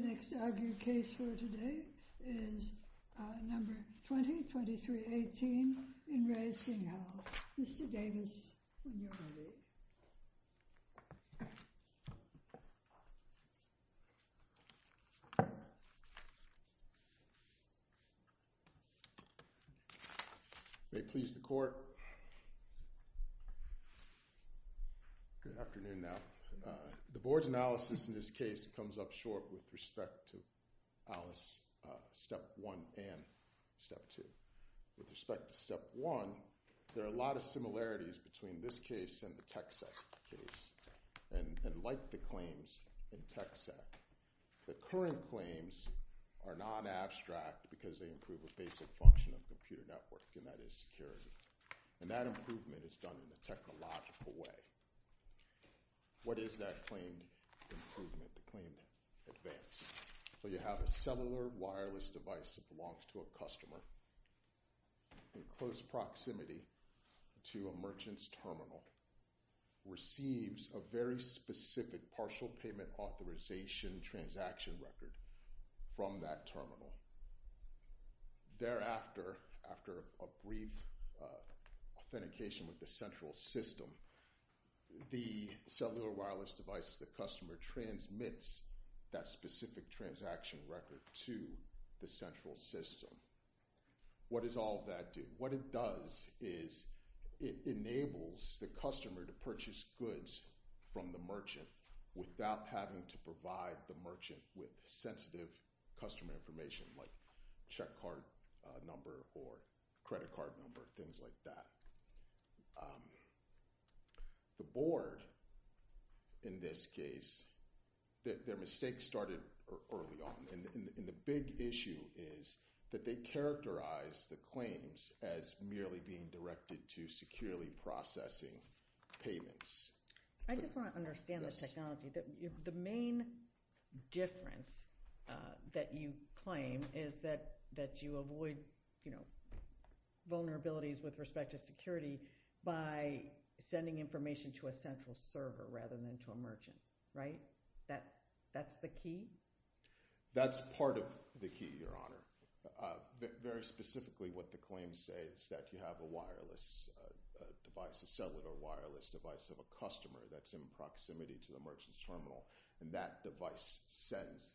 The next argued case for today is number 20-23-18 in Re Singhal, Mr. Davis, when you are ready. May it please the court. Good afternoon now. The board's analysis in this case comes up short with respect to Alice's step 1 and step 2. With respect to step 1, there are a lot of similarities between this case and the TechSec case, and like the claims in TechSec. The current claims are non-abstract because they improve a basic function of a computer network, and that is security. And that improvement is done in a technological way. What is that claimed improvement, claimed advance? Well, you have a cellular wireless device that belongs to a customer in close proximity to a merchant's terminal, receives a very specific partial payment authorization transaction record from that terminal. Thereafter, after a brief authentication with the central system, the cellular wireless device to the customer transmits that specific transaction record to the central system. What does all of that do? What it does is it enables the customer to purchase goods from the merchant without having to provide the merchant with sensitive customer information like check card number or credit card number, things like that. The board, in this case, their mistake started early on. And the big issue is that they characterize the claims as merely being directed to securely processing payments. I just want to understand the technology. The main difference that you claim is that you avoid, you know, by sending information to a central server rather than to a merchant, right? That's the key? That's part of the key, Your Honor. Very specifically, what the claims say is that you have a wireless device, a cellular wireless device of a customer that's in proximity to a merchant's terminal, and that device sends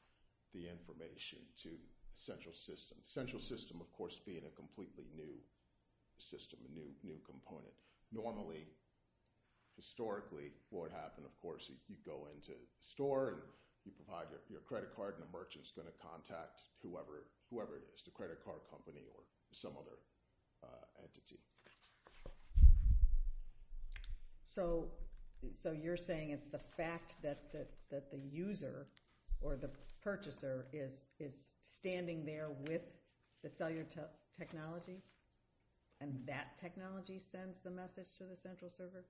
the information to central system. Central system, of course, being a completely new system, a new component. Normally, historically, what would happen, of course, you'd go into a store, and you provide your credit card, and the merchant's going to contact whoever it is, the credit card company or some other entity. So you're saying it's the fact that the user or the purchaser is standing there with the cellular technology, and that technology sends the message to the central server?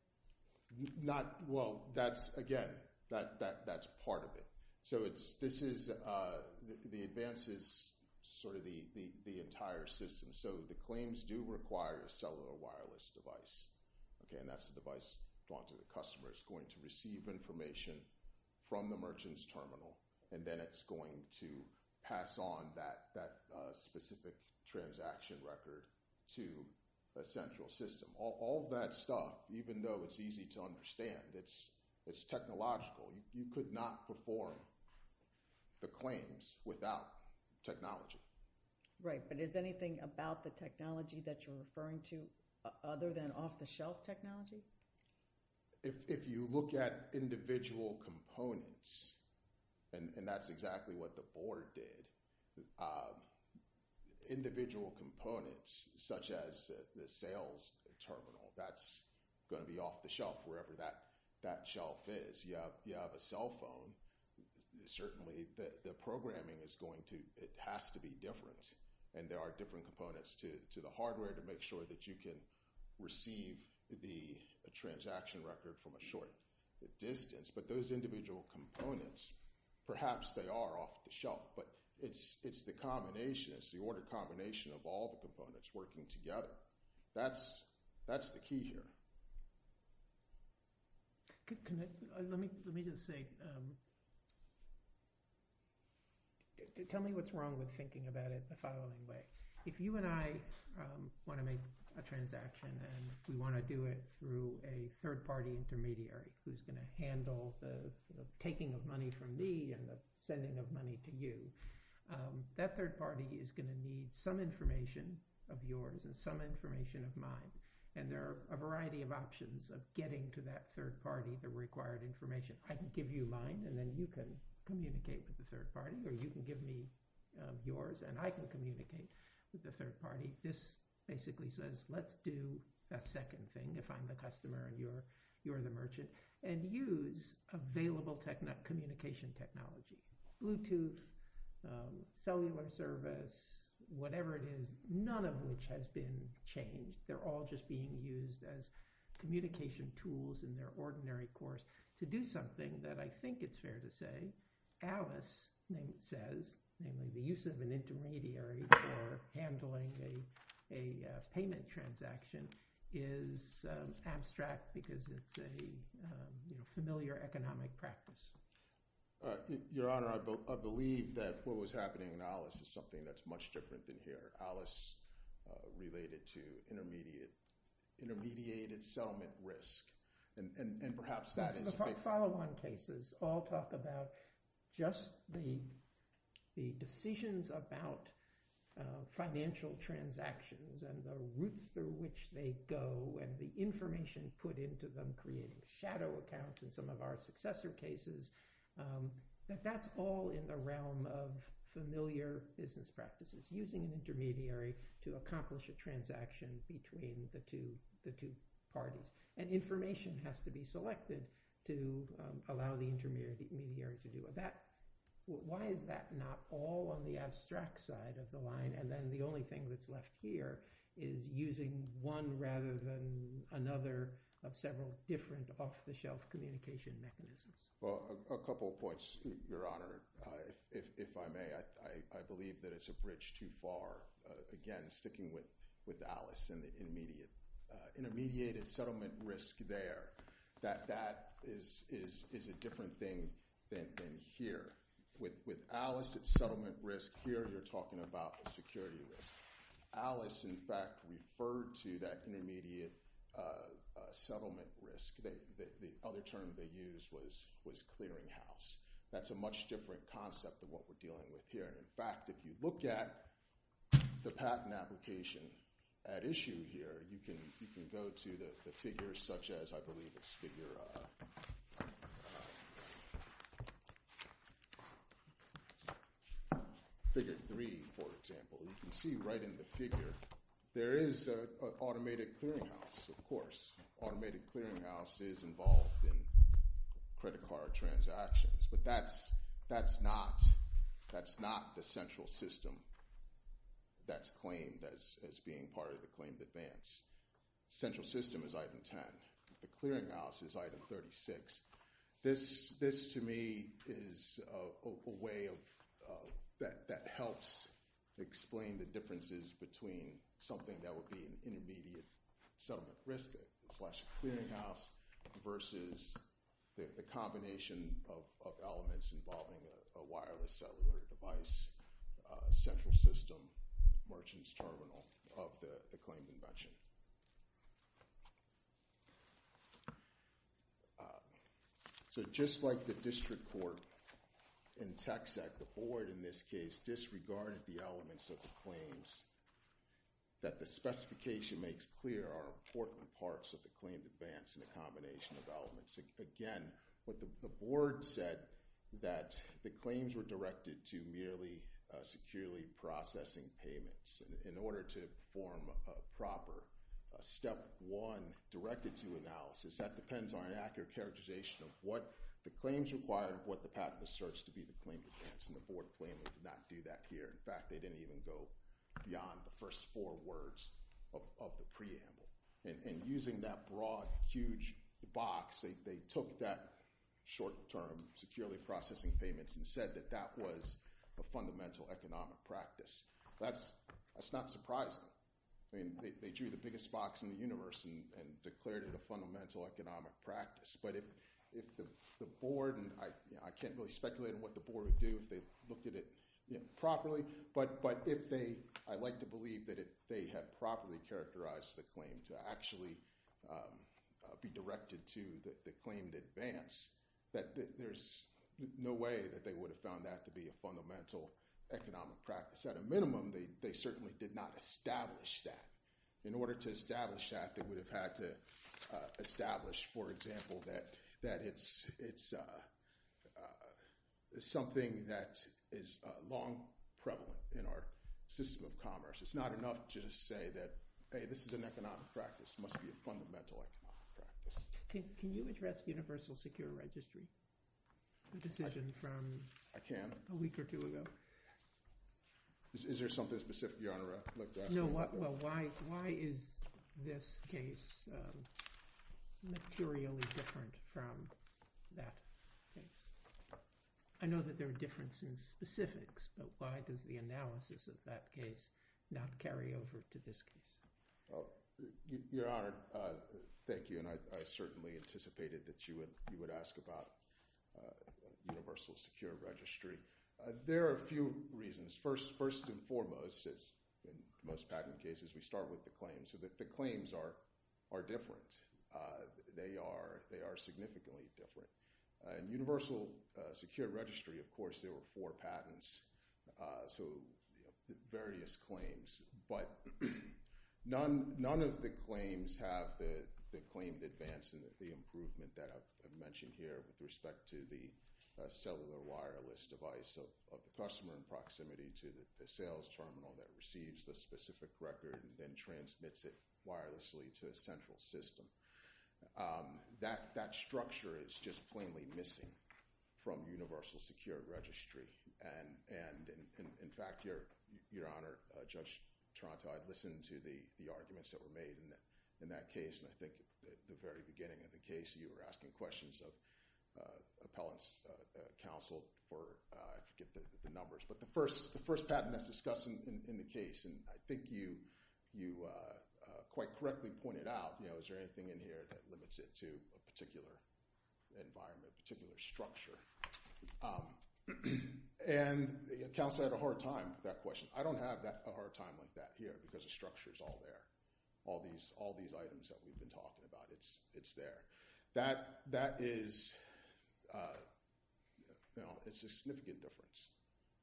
Well, again, that's part of it. So the advance is sort of the entire system. So the claims do require a cellular wireless device, and that's the device going to the customer. It's going to receive information from the merchant's terminal, and then it's going to pass on that specific transaction record to a central system. All that stuff, even though it's easy to understand, it's technological. You could not perform the claims without technology. Right, but is anything about the technology that you're referring to other than off-the-shelf technology? If you look at individual components, and that's exactly what the board did, individual components such as the sales terminal, that's going to be off the shelf wherever that shelf is. You have a cell phone. Certainly the programming has to be different, and there are different components to the hardware to make sure that you can receive the transaction record from a short distance. But those individual components, perhaps they are off the shelf, but it's the order combination of all the components working together. That's the key here. Let me just say, tell me what's wrong with thinking about it the following way. If you and I want to make a transaction and we want to do it through a third-party intermediary who's going to handle the taking of money from me and the sending of money to you, that third party is going to need some information of yours and some information of mine, and there are a variety of options of getting to that third party the required information. I can give you mine and then you can communicate with the third party, or you can give me yours and I can communicate with the third party. This basically says, let's do a second thing if I'm the customer and you're the merchant, and use available communication technology, Bluetooth, cellular service, whatever it is, none of which has been changed. They're all just being used as communication tools in their ordinary course to do something that I think it's fair to say Alice says, namely the use of an intermediary for handling a payment transaction is abstract because it's a familiar economic practice. Your Honor, I believe that what was happening in Alice is something that's much different than here. Alice related to intermediated settlement risk, and perhaps that is a big… The follow-on cases all talk about just the decisions about financial transactions and the routes through which they go and the information put into them creating shadow accounts in some of our successor cases, that that's all in the realm of familiar business practices. It's using an intermediary to accomplish a transaction between the two parties, and information has to be selected to allow the intermediary to do it. Why is that not all on the abstract side of the line, and then the only thing that's left here is using one rather than another of several different off-the-shelf communication mechanisms? Well, a couple of points, Your Honor. If I may, I believe that it's a bridge too far. Again, sticking with Alice and the intermediate. Intermediated settlement risk there, that is a different thing than here. With Alice at settlement risk, here you're talking about the security risk. Alice, in fact, referred to that intermediate settlement risk. The other term they used was clearinghouse. That's a much different concept than what we're dealing with here. In fact, if you look at the patent application at issue here, you can go to the figures such as, I believe it's figure 3, for example. You can see right in the figure there is an automated clearinghouse, of course. Automated clearinghouse is involved in credit card transactions, but that's not the central system that's claimed as being part of the claimed advance. Central system is item 10. The clearinghouse is item 36. This, to me, is a way that helps explain the differences between something that would be an intermediate settlement risk, slash clearinghouse, versus the combination of elements involving a wireless cellular device, central system, merchant's terminal, of the claimed invention. Just like the district court in TXAC, the board, in this case, disregarded the elements of the claims that the specification makes clear are important parts of the claimed advance in a combination of elements. Again, the board said that the claims were directed to merely securely processing payments. In order to form a proper step one directed to analysis, that depends on an accurate characterization of what the claims require, and what the patent was searched to be the claimed advance, and the board claiming to not do that here. In fact, they didn't even go beyond the first four words of the preamble. Using that broad, huge box, they took that short-term securely processing payments and said that that was a fundamental economic practice. That's not surprising. They drew the biggest box in the universe and declared it a fundamental economic practice. I can't really speculate on what the board would do if they looked at it properly, but I like to believe that if they had properly characterized the claim to actually be directed to the claimed advance, that there's no way that they would have found that to be a fundamental economic practice. At a minimum, they certainly did not establish that. In order to establish that, they would have had to establish, for example, that it's something that is long prevalent in our system of commerce. It's not enough to just say that, hey, this is an economic practice. It must be a fundamental economic practice. Can you address universal secure registry, the decision from a week or two ago? I can. Is there something specific you want to look at? Why is this case materially different from that case? I know that there are differences in specifics, but why does the analysis of that case not carry over to this case? Your Honor, thank you. I certainly anticipated that you would ask about universal secure registry. There are a few reasons. First and foremost, as in most patent cases, we start with the claims. The claims are different. They are significantly different. In universal secure registry, of course, there were four patents, so various claims. But none of the claims have the claimed advance and the improvement that I've mentioned here with respect to the cellular wireless device of the customer in proximity to the sales terminal that receives the specific record and then transmits it wirelessly to a central system. That structure is just plainly missing from universal secure registry. In fact, Your Honor, Judge Toronto, I listened to the arguments that were made in that case, and I think at the very beginning of the case, you were asking questions of appellant's counsel to get the numbers. But the first patent that's discussed in the case, and I think you quite correctly pointed out, is there anything in here that limits it to a particular environment, particular structure? And counsel had a hard time with that question. I don't have a hard time with that here because the structure is all there. All these items that we've been talking about, it's there. That is a significant difference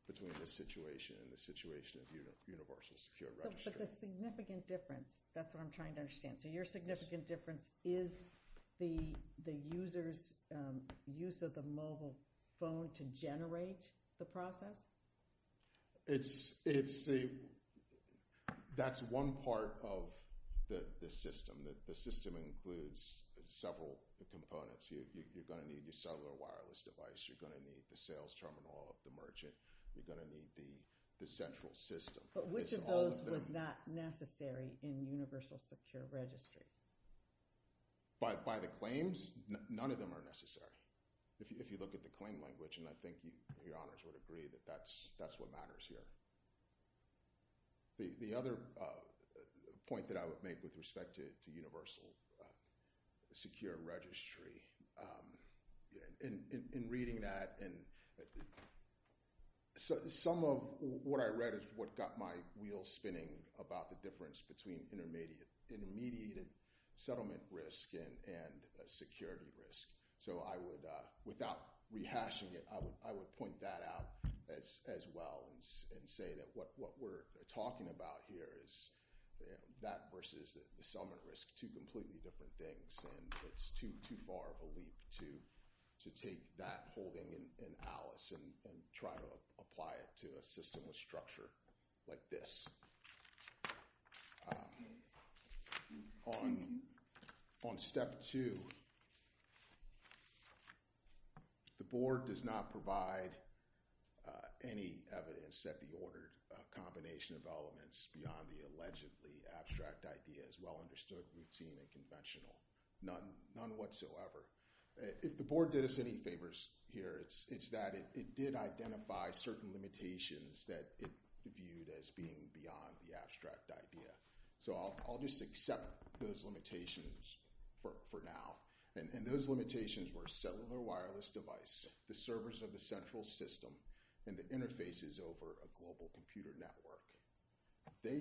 between this situation and the situation of universal secure registry. But the significant difference, that's what I'm trying to understand. So your significant difference is the user's use of the mobile phone to generate the process? That's one part of the system. The system includes several components. You're going to need your cellular wireless device. You're going to need the sales terminal of the merchant. You're going to need the central system. But which of those was not necessary in universal secure registry? By the claims, none of them are necessary. If you look at the claim language, and I think your honors would agree, that that's what matters here. The other point that I would make with respect to universal secure registry, in reading that, some of what I read is what got my wheels spinning about the difference between intermediate and immediate settlement risk and security risk. Without rehashing it, I would point that out as well and say that what we're talking about here is that versus the settlement risk, two completely different things. It's too far of a leap to take that holding in Alice and try to apply it to a system with structure like this. On step two, the board does not provide any evidence that the ordered combination of elements beyond the allegedly abstract idea is well understood, routine, and conventional. None whatsoever. If the board did us any favors here, it's that it did identify certain limitations that it viewed as being beyond the abstract idea. I'll just accept those limitations for now. Those limitations were cellular wireless device, the servers of the central system, and the interfaces over a global computer network. They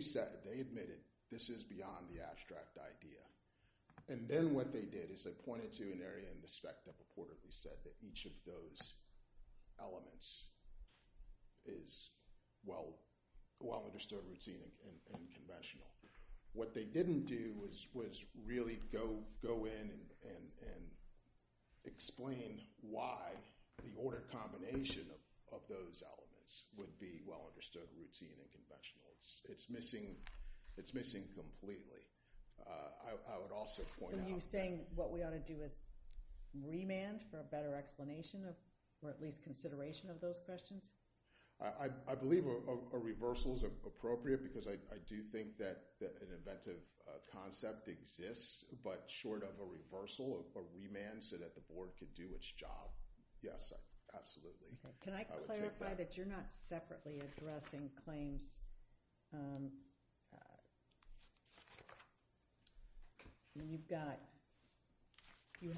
admitted this is beyond the abstract idea. Then what they did is they pointed to an area in the spec that reportedly said that each of those elements is well understood, routine, and conventional. What they didn't do was really go in and explain why the ordered combination of those elements would be well understood, routine, and conventional. It's missing completely. I would also point out that— or at least consideration of those questions. I believe a reversal is appropriate because I do think that an inventive concept exists, but short of a reversal, a remand so that the board could do its job. Yes, absolutely. Can I clarify that you're not separately addressing claims? You've got—you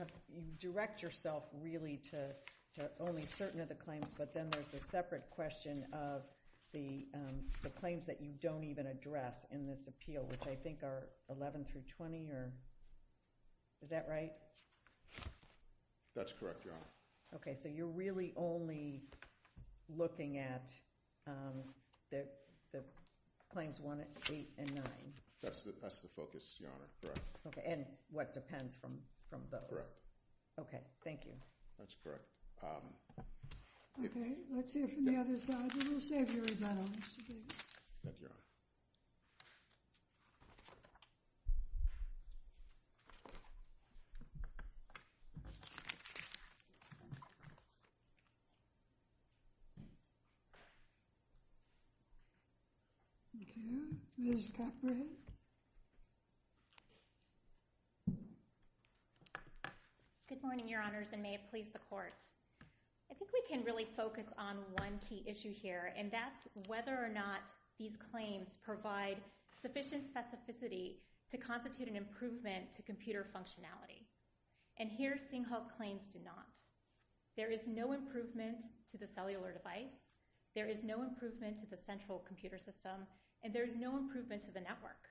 direct yourself really to only certain of the claims, but then there's the separate question of the claims that you don't even address in this appeal, which I think are 11 through 20? Is that right? That's correct, Your Honor. Okay. So you're really only looking at the claims 1, 8, and 9? That's the focus, Your Honor. Correct. And what depends from those? Correct. Okay. Thank you. That's correct. Okay. We will serve you again, Mr. Davis. Thank you, Your Honor. Thank you. Okay. Ms. Capra? Good morning, Your Honors, and may it please the Court. I think we can really focus on one key issue here, and that's whether or not these claims provide sufficient specificity to constitute an improvement to computer functionality. And here, Singhal claims do not. There is no improvement to the cellular device, there is no improvement to the central computer system, and there is no improvement to the network.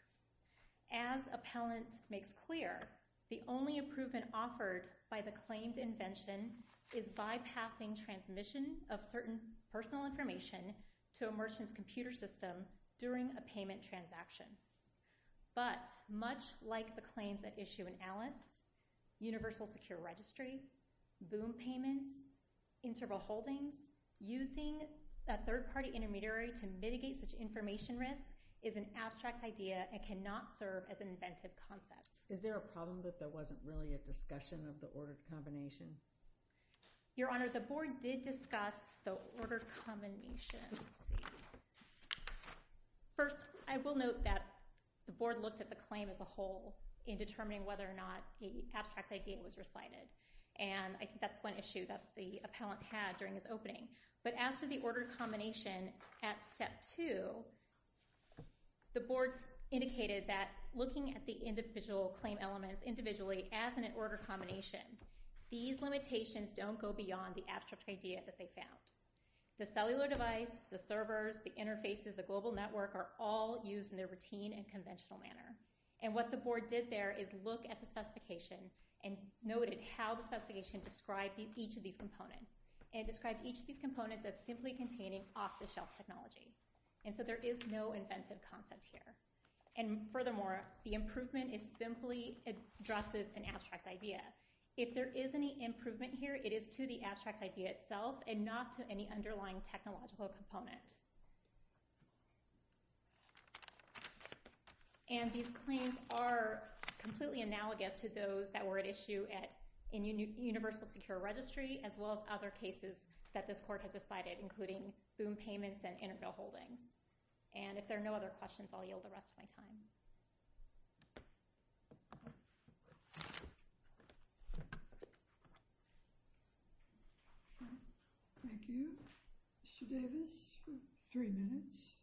As appellant makes clear, the only improvement offered by the claimed invention is bypassing transmission of certain personal information to a merchant's computer system during a payment transaction. But much like the claims at issue in Alice, universal secure registry, boom payments, interval holdings, using a third-party intermediary to mitigate such information risk is an abstract idea and cannot serve as an inventive concept. Is there a problem that there wasn't really a discussion of the order combination? Your Honor, the Board did discuss the order combination. Let's see. First, I will note that the Board looked at the claim as a whole in determining whether or not the abstract idea was recited, and I think that's one issue that the appellant had during his opening. But as to the order combination at Step 2, the Board indicated that looking at the individual claim elements individually as an order combination, these limitations don't go beyond the abstract idea that they found. The cellular device, the servers, the interfaces, the global network are all used in their routine and conventional manner. And what the Board did there is look at the specification and noted how the specification described each of these components. It described each of these components as simply containing off-the-shelf technology. And so there is no inventive concept here. And furthermore, the improvement simply addresses an abstract idea. If there is any improvement here, it is to the abstract idea itself and not to any underlying technological component. And these claims are completely analogous to those that were at issue in Universal Secure Registry as well as other cases that this Court has decided, including boom payments and interval holdings. And if there are no other questions, I'll yield the rest of my time. Thank you. Mr. Davis for three minutes.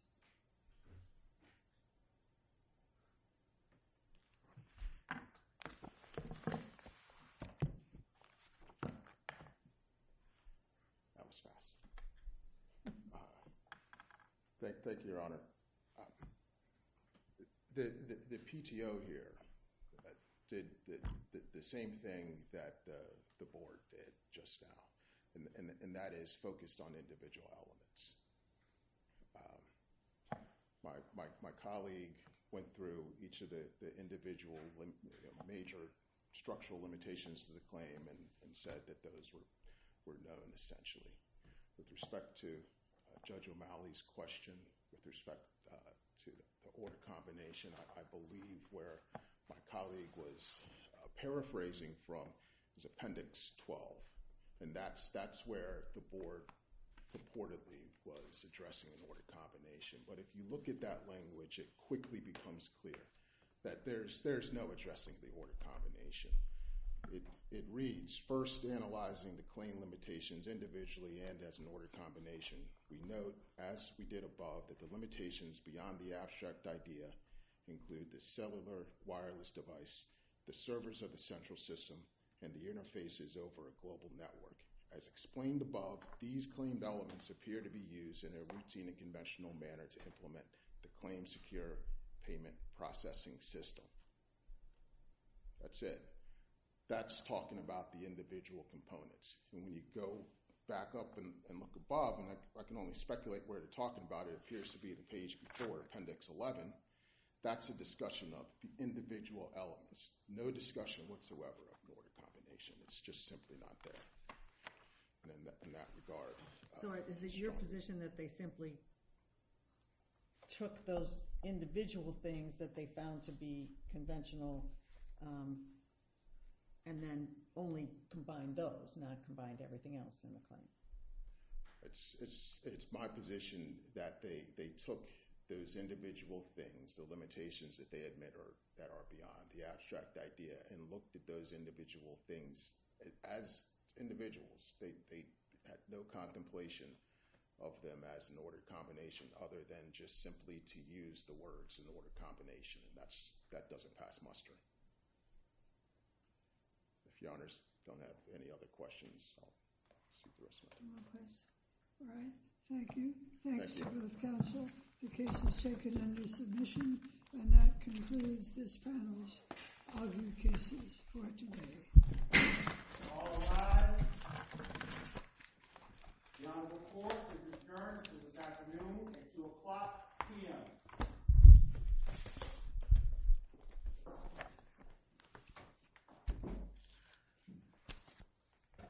That was fast. Thank you, Your Honor. The PTO here did the same thing that the Board did just now. And that is focused on individual elements. My colleague went through each of the individual major structural limitations of the claim and said that those were known essentially. With respect to Judge O'Malley's question, with respect to the order combination, I believe where my colleague was paraphrasing from is Appendix 12. And that's where the Board purportedly was addressing an order combination. But if you look at that language, it quickly becomes clear that there's no addressing the order combination. It reads, first, analyzing the claim limitations individually and as an order combination. We note, as we did above, that the limitations beyond the abstract idea include the cellular wireless device, the servers of the central system, and the interfaces over a global network. As explained above, these claimed elements appear to be used in a routine and conventional manner to implement the claim-secure payment processing system. That's it. That's talking about the individual components. And when you go back up and look above, and I can only speculate where they're talking about it, it appears to be the page before Appendix 11, that's a discussion of the individual elements. There's no discussion whatsoever of an order combination. It's just simply not there in that regard. So is it your position that they simply took those individual things that they found to be conventional and then only combined those, not combined everything else in the claim? It's my position that they took those individual things, the limitations that they admit that are beyond the abstract idea, and looked at those individual things as individuals. They had no contemplation of them as an order combination other than just simply to use the words in order combination, and that doesn't pass muster. If Your Honors don't have any other questions, I'll see you in a second. All right. Thank you. Thanks to both counsel. The case is taken under submission. And that concludes this panel's argument cases for today. All rise. Your Honor, the Court is adjourned until this afternoon at 2 o'clock p.m.